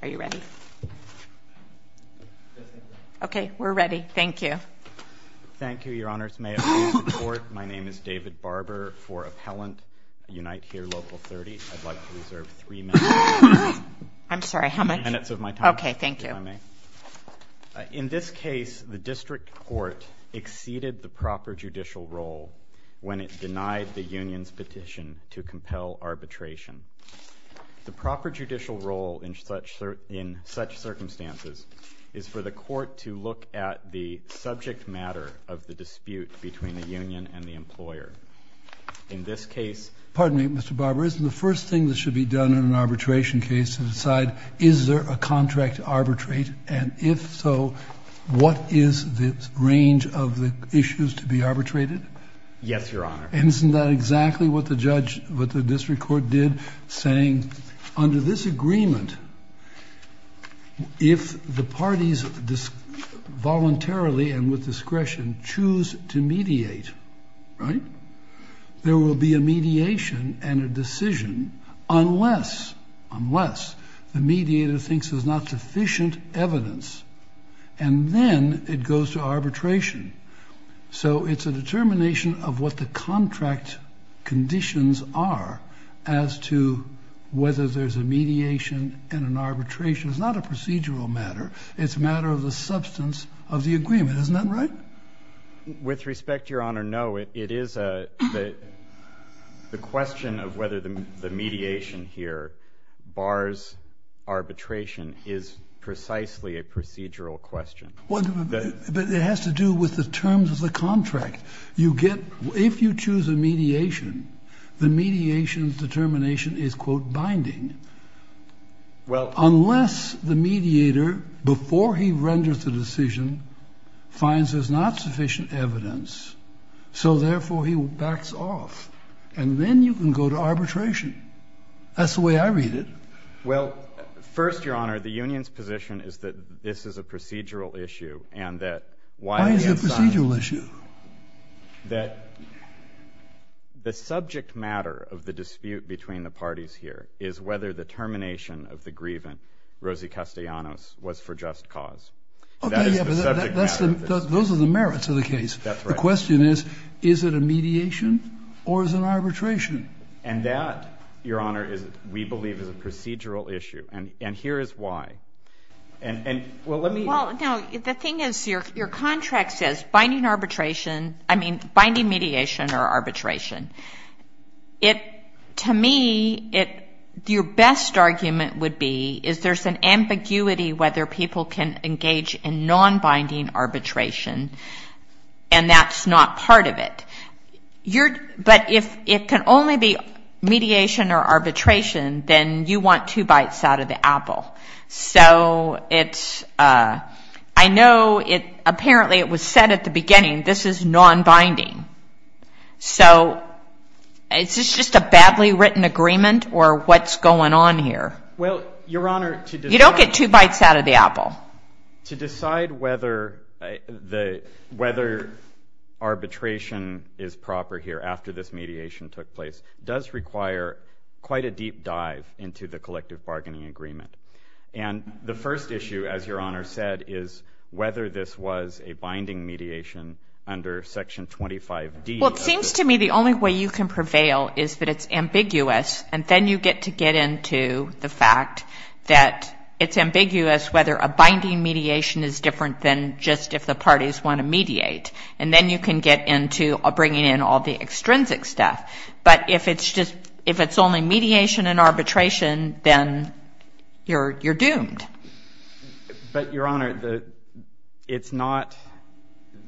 Are you ready? Okay, we're ready. Thank you. Thank you, Your Honors. May it please the Court, my name is David Barber for Appellant Unite Here Local 30. I'd like to reserve three minutes. I'm sorry, how much? Three minutes of my time. Okay, thank you. If I may. In this case, the District Court exceeded the proper judicial role when it denied the union's petition to compel arbitration. The proper judicial role in such circumstances is for the Court to look at the subject matter of the dispute between the union and the employer. In this case— Pardon me, Mr. Barber, isn't the first thing that should be done in an arbitration case to decide is there a contract to arbitrate, and if so, what is the range of the issues to be arbitrated? Yes, Your Honor. Isn't that exactly what the District Court did, saying, under this agreement, if the parties voluntarily and with discretion choose to mediate, there will be a mediation and a decision unless the mediator thinks there's not sufficient evidence, and then it goes to arbitration. So it's a determination of what the contract conditions are as to whether there's a mediation and an arbitration. It's not a procedural matter. It's a matter of the substance of the agreement. Isn't that right? With respect, Your Honor, no. The question of whether the mediation here bars arbitration is precisely a procedural question. But it has to do with the terms of the contract. You get — if you choose a mediation, the mediation's determination is, quote, binding. Well— Unless the mediator, before he renders the decision, finds there's not sufficient evidence, so therefore he backs off, and then you can go to arbitration. That's the way I read it. Well, first, Your Honor, the union's position is that this is a procedural issue and that— Why is it a procedural issue? That the subject matter of the dispute between the parties here is whether the termination of the grievant, Rosie Castellanos, was for just cause. That is the subject matter. Those are the merits of the case. That's right. The question is, is it a mediation or is it an arbitration? And that, Your Honor, we believe is a procedural issue. And here is why. Well, let me— Well, no, the thing is, your contract says binding mediation or arbitration. To me, your best argument would be is there's an ambiguity whether people can engage in non-binding arbitration, and that's not part of it. But if it can only be mediation or arbitration, then you want two bites out of the apple. So it's—I know apparently it was said at the beginning, this is non-binding. So is this just a badly written agreement, or what's going on here? Well, Your Honor, to decide— You don't get two bites out of the apple. To decide whether arbitration is proper here after this mediation took place does require quite a deep dive into the collective bargaining agreement. And the first issue, as Your Honor said, is whether this was a binding mediation under Section 25D. Well, it seems to me the only way you can prevail is that it's ambiguous, and then you get to get into the fact that it's ambiguous whether a binding mediation is different than just if the parties want to mediate. And then you can get into bringing in all the extrinsic stuff. But if it's just—if it's only mediation and arbitration, then you're doomed. But, Your Honor, it's not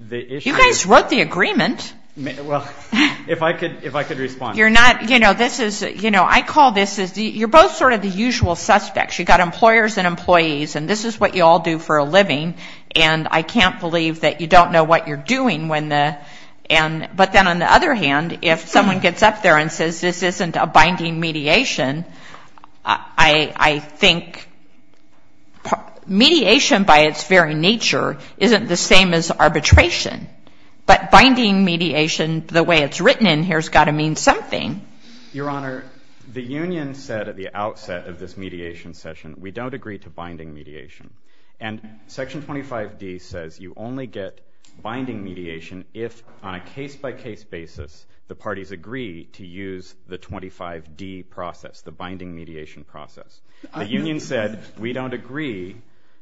the issue— You guys wrote the agreement. Well, if I could respond. You're not—you know, this is—you know, I call this—you're both sort of the usual suspects. You've got employers and employees, and this is what you all do for a living. And I can't believe that you don't know what you're doing when the— but then on the other hand, if someone gets up there and says this isn't a binding mediation, I think mediation by its very nature isn't the same as arbitration. But binding mediation, the way it's written in here, has got to mean something. Your Honor, the union said at the outset of this mediation session, we don't agree to binding mediation. And Section 25D says you only get binding mediation if, on a case-by-case basis, the parties agree to use the 25D process, the binding mediation process. The union said we don't agree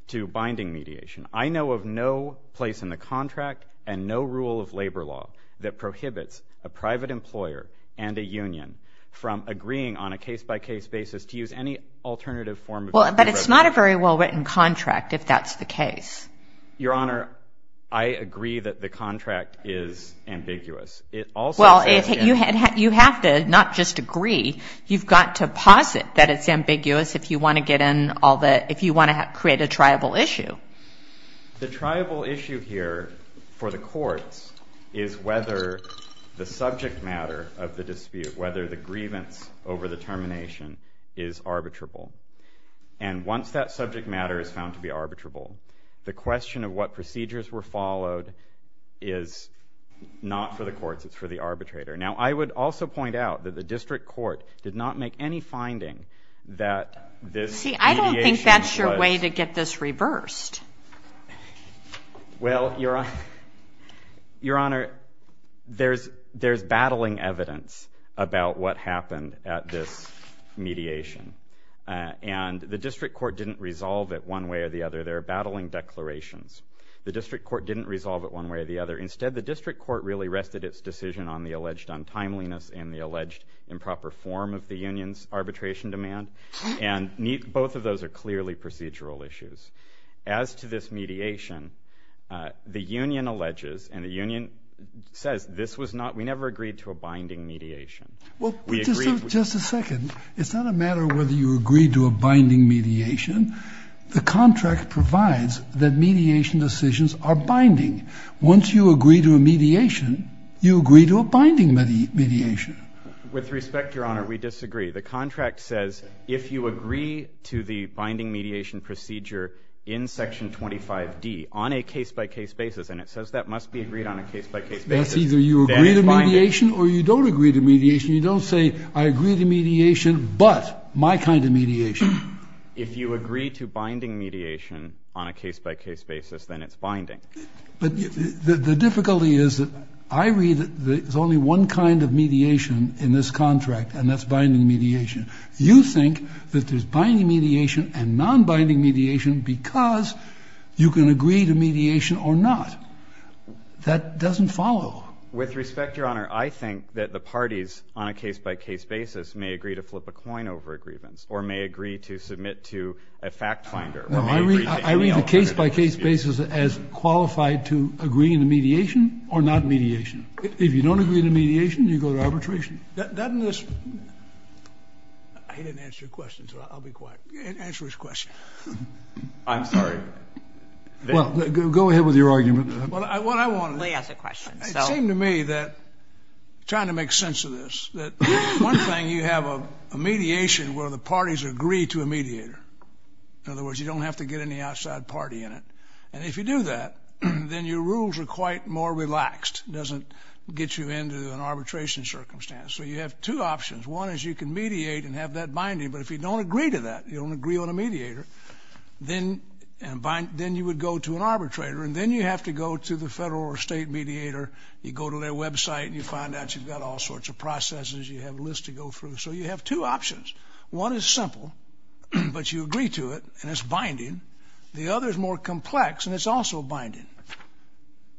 to binding mediation. I know of no place in the contract and no rule of labor law that prohibits a private employer and a union from agreeing on a case-by-case basis to use any alternative form of— Well, but it's not a very well-written contract if that's the case. Your Honor, I agree that the contract is ambiguous. It also says— Well, you have to not just agree. You've got to posit that it's ambiguous if you want to get in all the— The tribal issue here for the courts is whether the subject matter of the dispute, whether the grievance over the termination is arbitrable. And once that subject matter is found to be arbitrable, the question of what procedures were followed is not for the courts. It's for the arbitrator. Now, I would also point out that the district court did not make any finding that this mediation was— Well, Your Honor, there's battling evidence about what happened at this mediation, and the district court didn't resolve it one way or the other. There are battling declarations. The district court didn't resolve it one way or the other. Instead, the district court really rested its decision on the alleged untimeliness and the alleged improper form of the union's arbitration demand, and both of those are clearly procedural issues. As to this mediation, the union alleges and the union says this was not— we never agreed to a binding mediation. We agreed— Well, just a second. It's not a matter of whether you agree to a binding mediation. The contract provides that mediation decisions are binding. Once you agree to a mediation, you agree to a binding mediation. With respect, Your Honor, we disagree. The contract says if you agree to the binding mediation procedure in Section 25D on a case-by-case basis, and it says that must be agreed on a case-by-case basis, then it's binding. That's either you agree to mediation or you don't agree to mediation. You don't say I agree to mediation but my kind of mediation. If you agree to binding mediation on a case-by-case basis, then it's binding. But the difficulty is that I read that there's only one kind of mediation in this contract, and that's binding mediation. You think that there's binding mediation and non-binding mediation because you can agree to mediation or not. That doesn't follow. With respect, Your Honor, I think that the parties on a case-by-case basis may agree to flip a coin over a grievance or may agree to submit to a fact finder or may agree to any alternative. No, I read the case-by-case basis as qualified to agree to mediation or not mediation. If you don't agree to mediation, you go to arbitration. Doesn't this – he didn't answer your question, so I'll be quiet. Answer his question. I'm sorry. Well, go ahead with your argument. Well, what I want to – Lee has a question. It seemed to me that – trying to make sense of this – that one thing, you have a mediation where the parties agree to a mediator. In other words, you don't have to get any outside party in it. And if you do that, then your rules are quite more relaxed. It doesn't get you into an arbitration circumstance. So you have two options. One is you can mediate and have that binding. But if you don't agree to that, you don't agree on a mediator, then you would go to an arbitrator. And then you have to go to the federal or state mediator. You go to their website and you find out you've got all sorts of processes. You have a list to go through. So you have two options. One is simple, but you agree to it, and it's binding. The other is more complex, and it's also binding.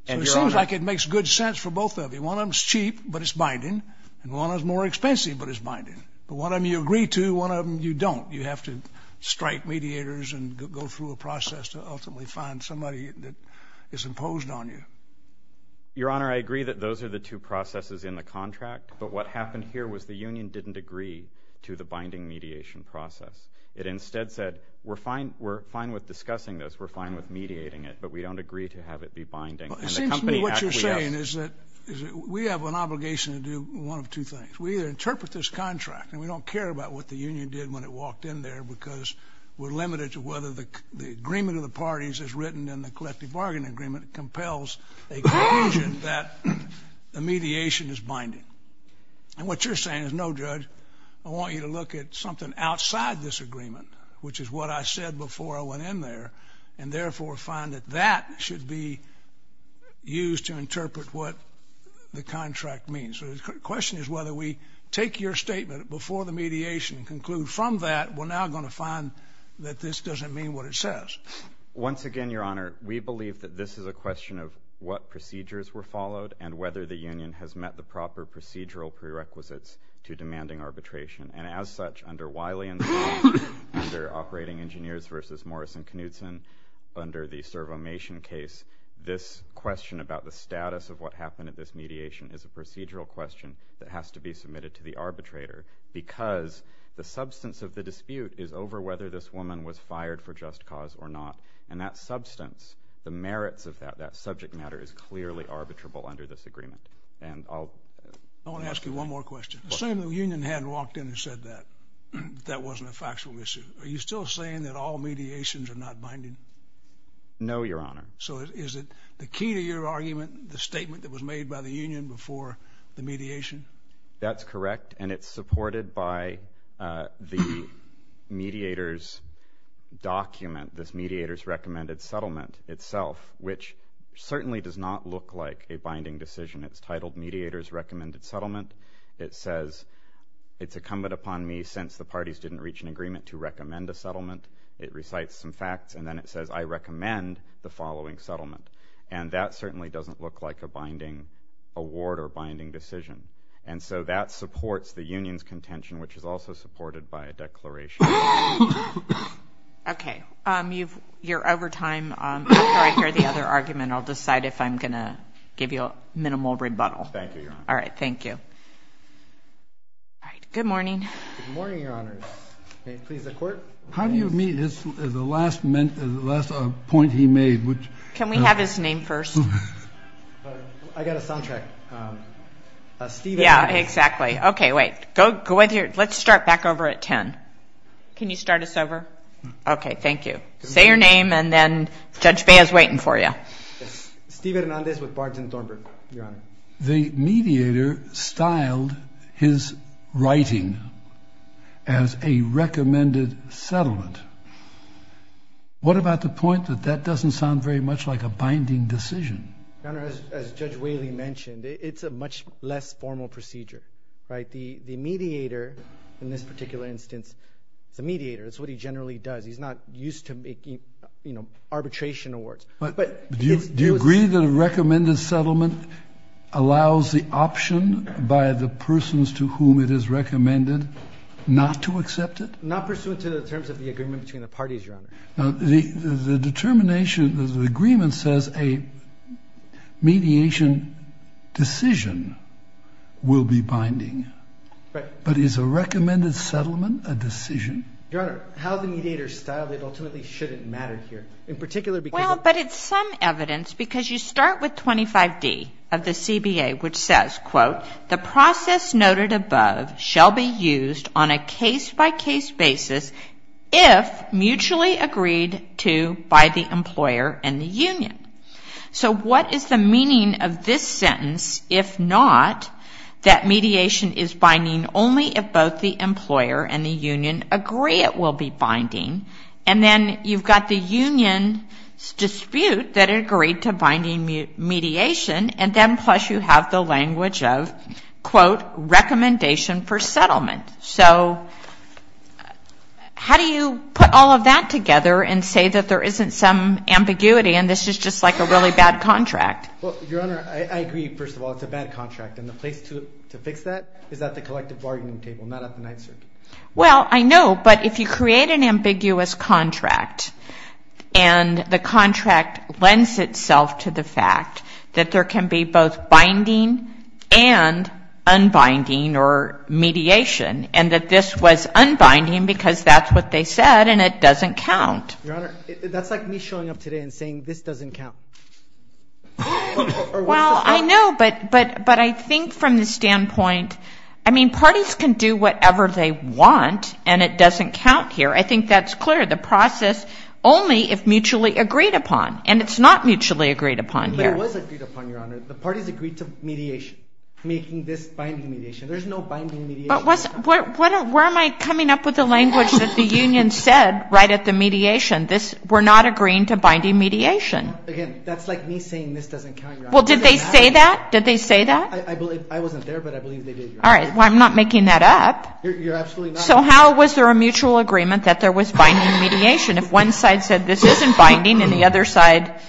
So it seems like it makes good sense for both of you. One of them is cheap, but it's binding. And one is more expensive, but it's binding. But one of them you agree to, one of them you don't. You have to strike mediators and go through a process to ultimately find somebody that is imposed on you. Your Honor, I agree that those are the two processes in the contract. But what happened here was the union didn't agree to the binding mediation process. It instead said, we're fine with discussing this, we're fine with mediating it, but we don't agree to have it be binding. And the company actually asked. Well, it seems to me what you're saying is that we have an obligation to do one of two things. We either interpret this contract, and we don't care about what the union did when it walked in there because we're limited to whether the agreement of the parties as written in the collective bargaining agreement compels a conclusion that the mediation is binding. And what you're saying is, no, Judge, I want you to look at something outside this agreement, which is what I said before I went in there, and therefore find that that should be used to interpret what the contract means. So the question is whether we take your statement before the mediation and conclude from that we're now going to find that this doesn't mean what it says. Once again, Your Honor, we believe that this is a question of what procedures were followed and whether the union has met the proper procedural prerequisites to demanding arbitration. And as such, under Wiley, under Operating Engineers v. Morrison-Knudsen, under the servomation case, this question about the status of what happened at this mediation is a procedural question that has to be submitted to the arbitrator because the substance of the dispute is over whether this woman was fired for just cause or not. And that substance, the merits of that, that subject matter, is clearly arbitrable under this agreement. And I'll ask you one more question. Assuming the union hadn't walked in and said that, that that wasn't a factual issue, are you still saying that all mediations are not binding? No, Your Honor. So is it the key to your argument, the statement that was made by the union before the mediation? That's correct, and it's supported by the mediator's document, this mediator's recommended settlement itself, which certainly does not look like a binding decision. It's titled Mediator's Recommended Settlement. It says, it's incumbent upon me, since the parties didn't reach an agreement, to recommend a settlement. It recites some facts, and then it says, I recommend the following settlement. And that certainly doesn't look like a binding award or binding decision. And so that supports the union's contention, which is also supported by a declaration. Okay. You're over time. After I hear the other argument, I'll decide if I'm going to give you a minimal rebuttal. Thank you, Your Honor. All right. Thank you. All right. Good morning. Good morning, Your Honor. May it please the Court. How do you meet? This is the last point he made. Can we have his name first? I got a soundtrack. Steve Hernandez. Yeah, exactly. Okay, wait. Let's start back over at 10. Can you start us over? Okay, thank you. Say your name, and then Judge Bea is waiting for you. Steve Hernandez with Barton Thornburg, Your Honor. The mediator styled his writing as a recommended settlement. What about the point that that doesn't sound very much like a binding decision? Your Honor, as Judge Whaley mentioned, it's a much less formal procedure, right? The mediator in this particular instance is a mediator. It's what he generally does. He's not used to making, you know, arbitration awards. Do you agree that a recommended settlement allows the option by the persons to whom it is recommended not to accept it? Not pursuant to the terms of the agreement between the parties, Your Honor. The determination of the agreement says a mediation decision will be binding. Right. But is a recommended settlement a decision? Your Honor, how the mediator styled it ultimately shouldn't matter here. Well, but it's some evidence because you start with 25D of the CBA, which says, quote, the process noted above shall be used on a case-by-case basis if mutually agreed to by the employer and the union. So what is the meaning of this sentence if not that mediation is binding only if both the employer and the union agree it will be binding, and then you've got the union's dispute that agreed to binding mediation, and then plus you have the language of, quote, recommendation for settlement. So how do you put all of that together and say that there isn't some ambiguity and this is just like a really bad contract? Well, Your Honor, I agree, first of all, it's a bad contract, and the place to fix that is at the collective bargaining table, not at the Ninth Circuit. Well, I know, but if you create an ambiguous contract and the contract lends itself to the fact that there can be both binding and unbinding or mediation and that this was unbinding because that's what they said and it doesn't count. Your Honor, that's like me showing up today and saying this doesn't count. Well, I know, but I think from the standpoint, I mean, and it doesn't count here, I think that's clear, the process only if mutually agreed upon, and it's not mutually agreed upon here. But it was agreed upon, Your Honor. The parties agreed to mediation, making this binding mediation. There's no binding mediation. Where am I coming up with the language that the union said right at the mediation? We're not agreeing to binding mediation. Again, that's like me saying this doesn't count, Your Honor. Well, did they say that? Did they say that? I wasn't there, but I believe they did, Your Honor. All right. Well, I'm not making that up. You're absolutely not. So how was there a mutual agreement that there was binding mediation? If one side said this isn't binding and the other side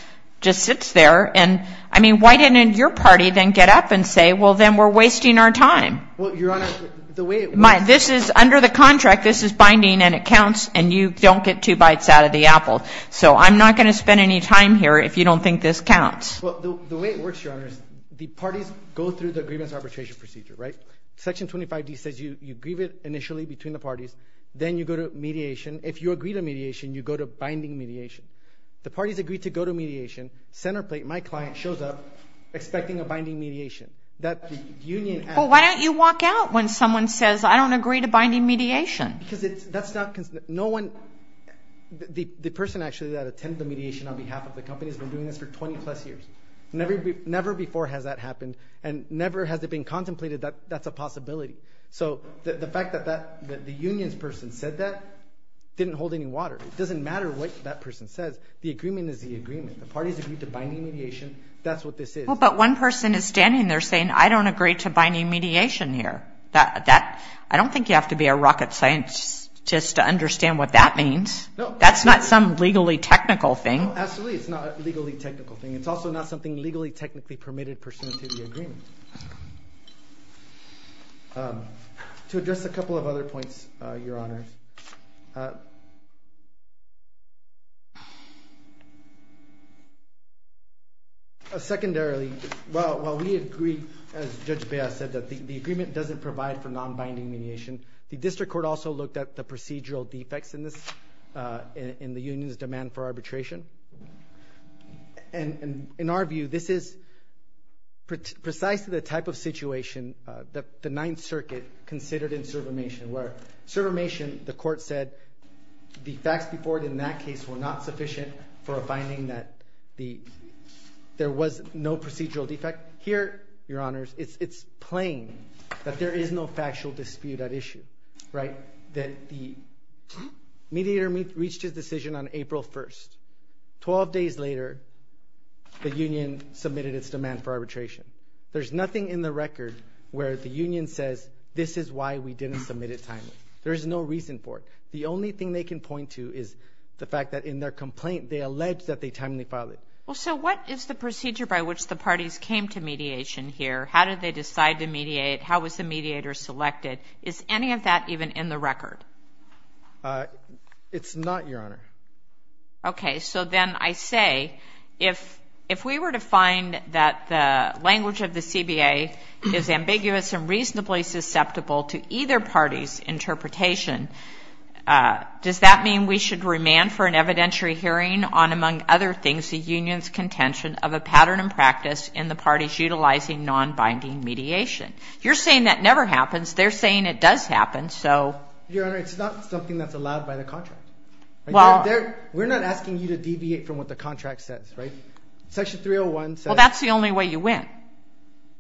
just sits there and, I mean, why didn't your party then get up and say, well, then we're wasting our time? Well, Your Honor, the way it works This is under the contract, this is binding, and it counts, and you don't get two bites out of the apple. So I'm not going to spend any time here if you don't think this counts. Well, the way it works, Your Honor, is the parties go through the grievance arbitration procedure, right? Section 25D says you grieve it initially between the parties. Then you go to mediation. If you agree to mediation, you go to binding mediation. The parties agree to go to mediation. Centerplate, my client, shows up expecting a binding mediation. Well, why don't you walk out when someone says, I don't agree to binding mediation? Because that's not, no one, the person actually that attended the mediation on behalf of the company has been doing this for 20-plus years. Never before has that happened, and never has it been contemplated that that's a possibility. So the fact that the unions person said that didn't hold any water. It doesn't matter what that person says. The agreement is the agreement. The parties agree to binding mediation. That's what this is. Well, but one person is standing there saying, I don't agree to binding mediation here. I don't think you have to be a rocket scientist to understand what that means. That's not some legally technical thing. No, absolutely it's not a legally technical thing. It's also not something legally technically permitted pursuant to the agreement. To address a couple of other points, Your Honors. Secondarily, while we agree, as Judge Bea said, that the agreement doesn't provide for non-binding mediation, the district court also looked at the procedural defects in the union's demand for arbitration. And in our view, this is precisely the type of situation that the Ninth Circuit considered in servamation. Where servamation, the court said, the facts before it in that case were not sufficient for a finding that there was no procedural defect. Here, Your Honors, it's plain that there is no factual dispute at issue. That the mediator reached his decision on April 1st. Twelve days later, the union submitted its demand for arbitration. There's nothing in the record where the union says, this is why we didn't submit it timely. There's no reason for it. The only thing they can point to is the fact that in their complaint, they allege that they timely filed it. Well, so what is the procedure by which the parties came to mediation here? How did they decide to mediate? How was the mediator selected? Is any of that even in the record? It's not, Your Honor. Okay, so then I say, if we were to find that the language of the CBA is ambiguous and reasonably susceptible to either party's interpretation, does that mean we should remand for an evidentiary hearing on, among other things, the union's contention of a pattern and practice in the parties utilizing non-binding mediation? You're saying that never happens. They're saying it does happen, so. Your Honor, it's not something that's allowed by the contract. We're not asking you to deviate from what the contract says, right? Section 301 says. Well, that's the only way you win,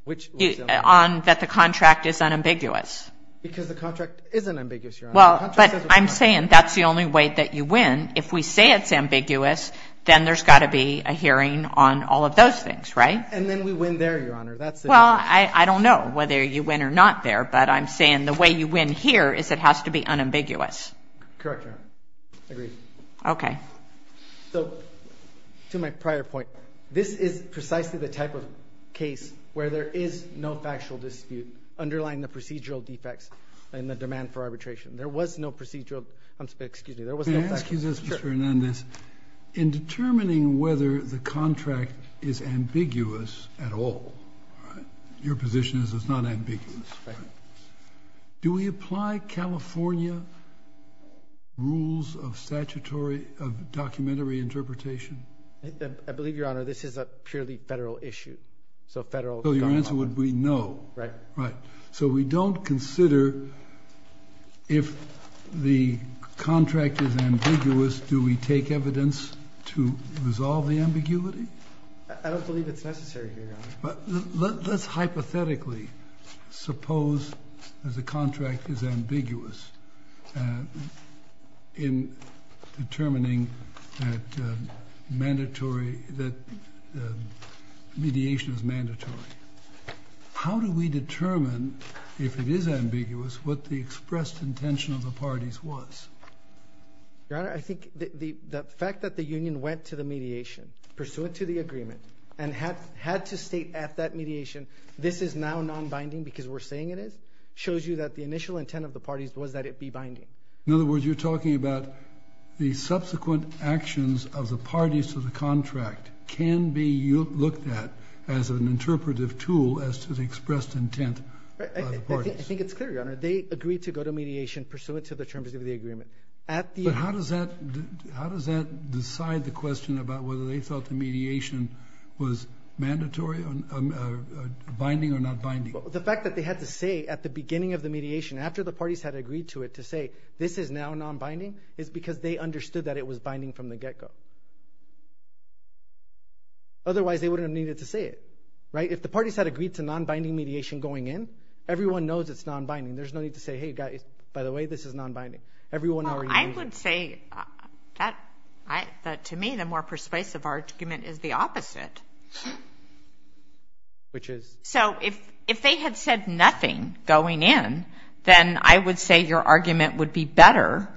that the contract is unambiguous. Because the contract isn't ambiguous, Your Honor. Well, but I'm saying that's the only way that you win. If we say it's ambiguous, then there's got to be a hearing on all of those things, right? And then we win there, Your Honor. Well, I don't know whether you win or not there, but I'm saying the way you win here is it has to be unambiguous. Correct, Your Honor. Agreed. Okay. So, to my prior point, this is precisely the type of case where there is no factual dispute underlying the procedural defects and the demand for arbitration. There was no procedural, excuse me, there was no factual dispute. Mr. Hernandez, in determining whether the contract is ambiguous at all, your position is it's not ambiguous. Do we apply California rules of documentary interpretation? I believe, Your Honor, this is a purely federal issue. So your answer would be no. Right. Right. So we don't consider if the contract is ambiguous, do we take evidence to resolve the ambiguity? I don't believe it's necessary here, Your Honor. Let's hypothetically suppose that the contract is ambiguous in determining that mediation is mandatory. How do we determine if it is ambiguous what the expressed intention of the parties was? Your Honor, I think the fact that the union went to the mediation, pursuant to the agreement, and had to state at that mediation, this is now non-binding because we're saying it is, shows you that the initial intent of the parties was that it be binding. In other words, you're talking about the subsequent actions of the parties to the contract can be looked at as an interpretive tool as to the expressed intent of the parties. I think it's clear, Your Honor. They agreed to go to mediation pursuant to the terms of the agreement. But how does that decide the question about whether they thought the mediation was binding or not binding? The fact that they had to say at the beginning of the mediation, after the parties had agreed to it, to say this is now non-binding, is because they understood that it was binding from the get-go. Otherwise, they wouldn't have needed to say it. If the parties had agreed to non-binding mediation going in, everyone knows it's non-binding. There's no need to say, hey guys, by the way, this is non-binding. Everyone already agreed. Well, I would say that to me the more persuasive argument is the opposite. Which is? So if they had said nothing going in, then I would say your argument would be better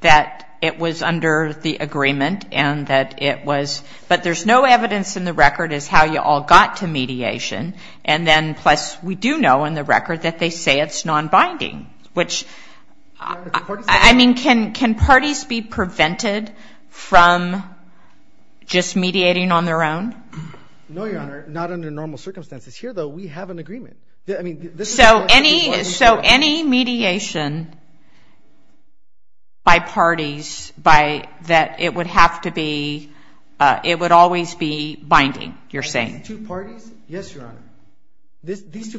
that it was under the agreement and that it was, but there's no evidence in the record as how you all got to mediation, and then plus we do know in the record that they say it's non-binding. Which, I mean, can parties be prevented from just mediating on their own? No, Your Honor. Not under normal circumstances. Here, though, we have an agreement. So any mediation by parties that it would have to be, it would always be binding, you're saying? These two parties? Yes, Your Honor. These two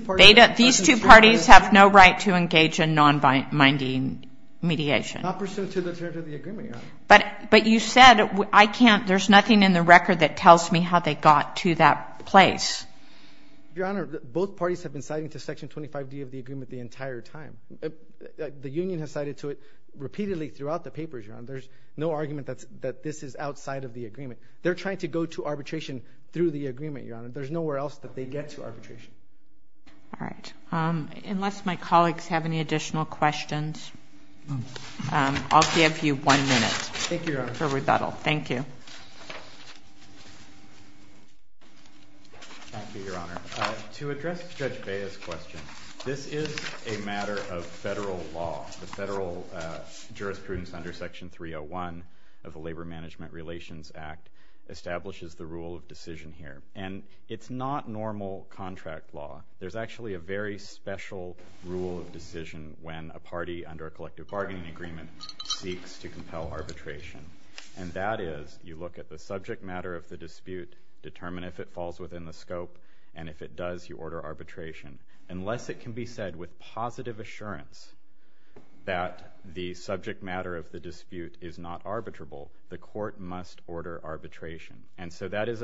parties have no right to engage in non-binding mediation. Not pursuant to the terms of the agreement, Your Honor. But you said I can't, there's nothing in the record that tells me how they got to that place. Your Honor, both parties have been citing to Section 25D of the agreement the entire time. The union has cited to it repeatedly throughout the papers, Your Honor. There's no argument that this is outside of the agreement. They're trying to go to arbitration through the agreement, Your Honor. There's nowhere else that they get to arbitration. All right. Unless my colleagues have any additional questions, I'll give you one minute for rebuttal. Thank you, Your Honor. Thank you. Thank you, Your Honor. To address Judge Bea's question, this is a matter of federal law. The federal jurisprudence under Section 301 of the Labor Management Relations Act establishes the rule of decision here. And it's not normal contract law. There's actually a very special rule of decision when a party under a collective bargaining agreement seeks to compel arbitration. And that is you look at the subject matter of the dispute, determine if it falls within the scope, and if it does, you order arbitration. Unless it can be said with positive assurance that the subject matter of the dispute is not arbitrable, the court must order arbitration. And so that is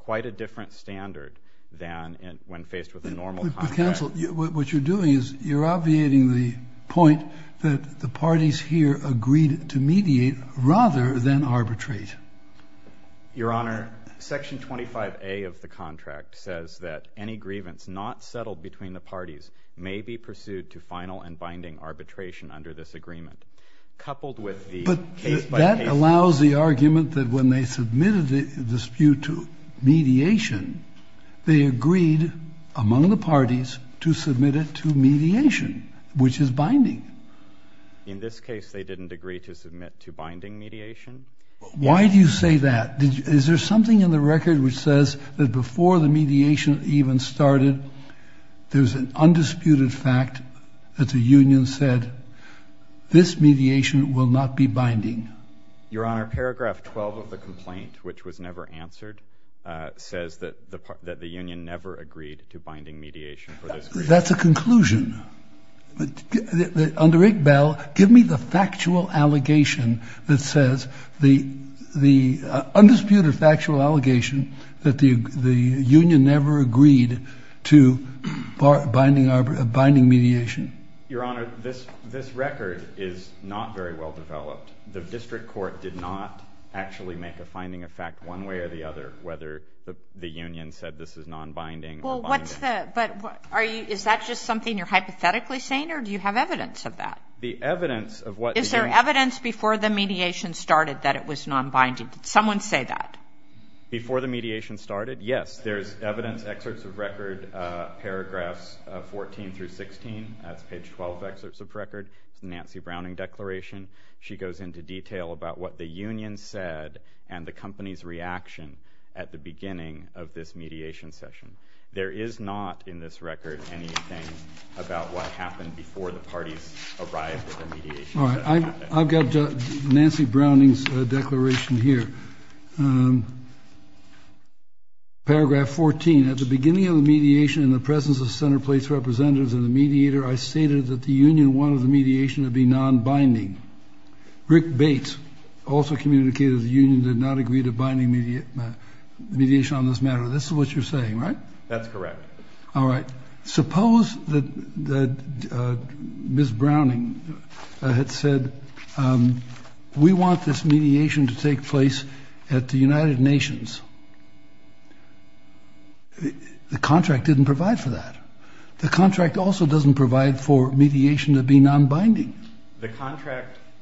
quite a different standard than when faced with a normal contract. Counsel, what you're doing is you're obviating the point that the parties here agreed to mediate rather than arbitrate. Your Honor, Section 25A of the contract says that any grievance not settled between the parties may be pursued to final and binding arbitration under this agreement. But that allows the argument that when they submitted the dispute to mediation, they agreed among the parties to submit it to mediation, which is binding. In this case, they didn't agree to submit to binding mediation. Why do you say that? Is there something in the record which says that before the mediation even started, there's an undisputed fact that the union said, this mediation will not be binding? Your Honor, paragraph 12 of the complaint, which was never answered, says that the union never agreed to binding mediation for this reason. That's a conclusion. Under IGBEL, give me the factual allegation that says the undisputed factual allegation that the union never agreed to binding mediation. Your Honor, this record is not very well developed. The district court did not actually make a finding of fact one way or the other, whether the union said this is nonbinding or binding. But is that just something you're hypothetically saying, or do you have evidence of that? The evidence of what? Is there evidence before the mediation started that it was nonbinding? Did someone say that? Before the mediation started? Yes, there's evidence, excerpts of record, paragraphs 14 through 16. That's page 12, excerpts of record. It's a Nancy Browning declaration. She goes into detail about what the union said and the company's reaction at the beginning of this mediation session. There is not in this record anything about what happened before the parties arrived at the mediation. All right, I've got Nancy Browning's declaration here. Paragraph 14, at the beginning of the mediation in the presence of centerplace representatives and the mediator, I stated that the union wanted the mediation to be nonbinding. Rick Bates also communicated the union did not agree to binding mediation on this matter. This is what you're saying, right? That's correct. All right. Suppose that Ms. Browning had said, we want this mediation to take place at the United Nations. The contract didn't provide for that. The contract also doesn't provide for mediation to be nonbinding.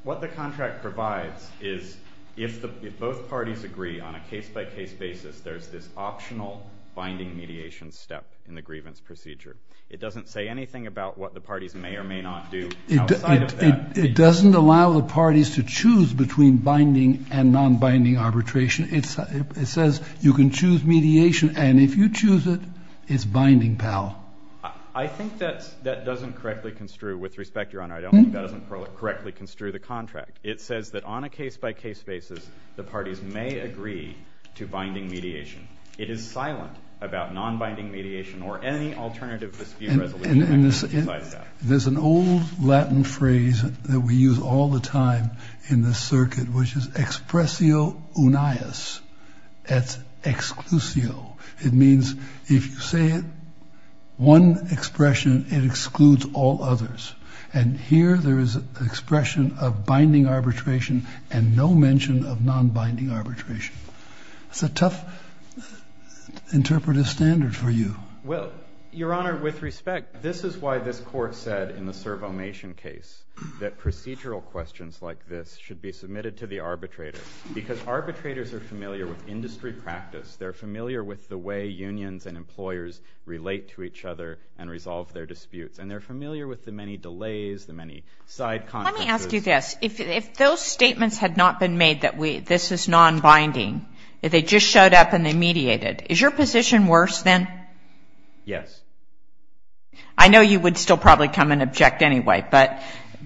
What the contract provides is if both parties agree on a case-by-case basis, there's this optional binding mediation step in the grievance procedure. It doesn't say anything about what the parties may or may not do outside of that. It doesn't allow the parties to choose between binding and nonbinding arbitration. It says you can choose mediation, and if you choose it, it's binding, pal. I think that doesn't correctly construe, with respect, Your Honor. I don't think that doesn't correctly construe the contract. It says that on a case-by-case basis, the parties may agree to binding mediation. It is silent about nonbinding mediation or any alternative dispute resolution. There's an old Latin phrase that we use all the time in this circuit, which is expressio unias. That's exclusio. It means if you say one expression, it excludes all others. And here there is an expression of binding arbitration and no mention of nonbinding arbitration. It's a tough interpretive standard for you. Well, Your Honor, with respect, this is why this Court said in the Cervo-Mation case that procedural questions like this should be submitted to the arbitrator. Because arbitrators are familiar with industry practice. They're familiar with the way unions and employers relate to each other and resolve their disputes. And they're familiar with the many delays, the many side consequences. Let me ask you this. If those statements had not been made that this is nonbinding, if they just showed up and they mediated, is your position worse then? Yes. I know you would still probably come and object anyway.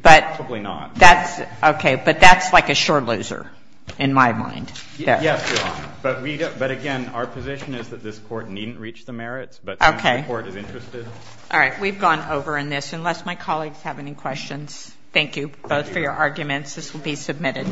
Probably not. That's okay. But that's like a sure loser in my mind. Yes, Your Honor. But again, our position is that this Court needn't reach the merits, but the Court is interested. All right. We've gone over in this. Unless my colleagues have any questions, thank you both for your arguments. This will be submitted.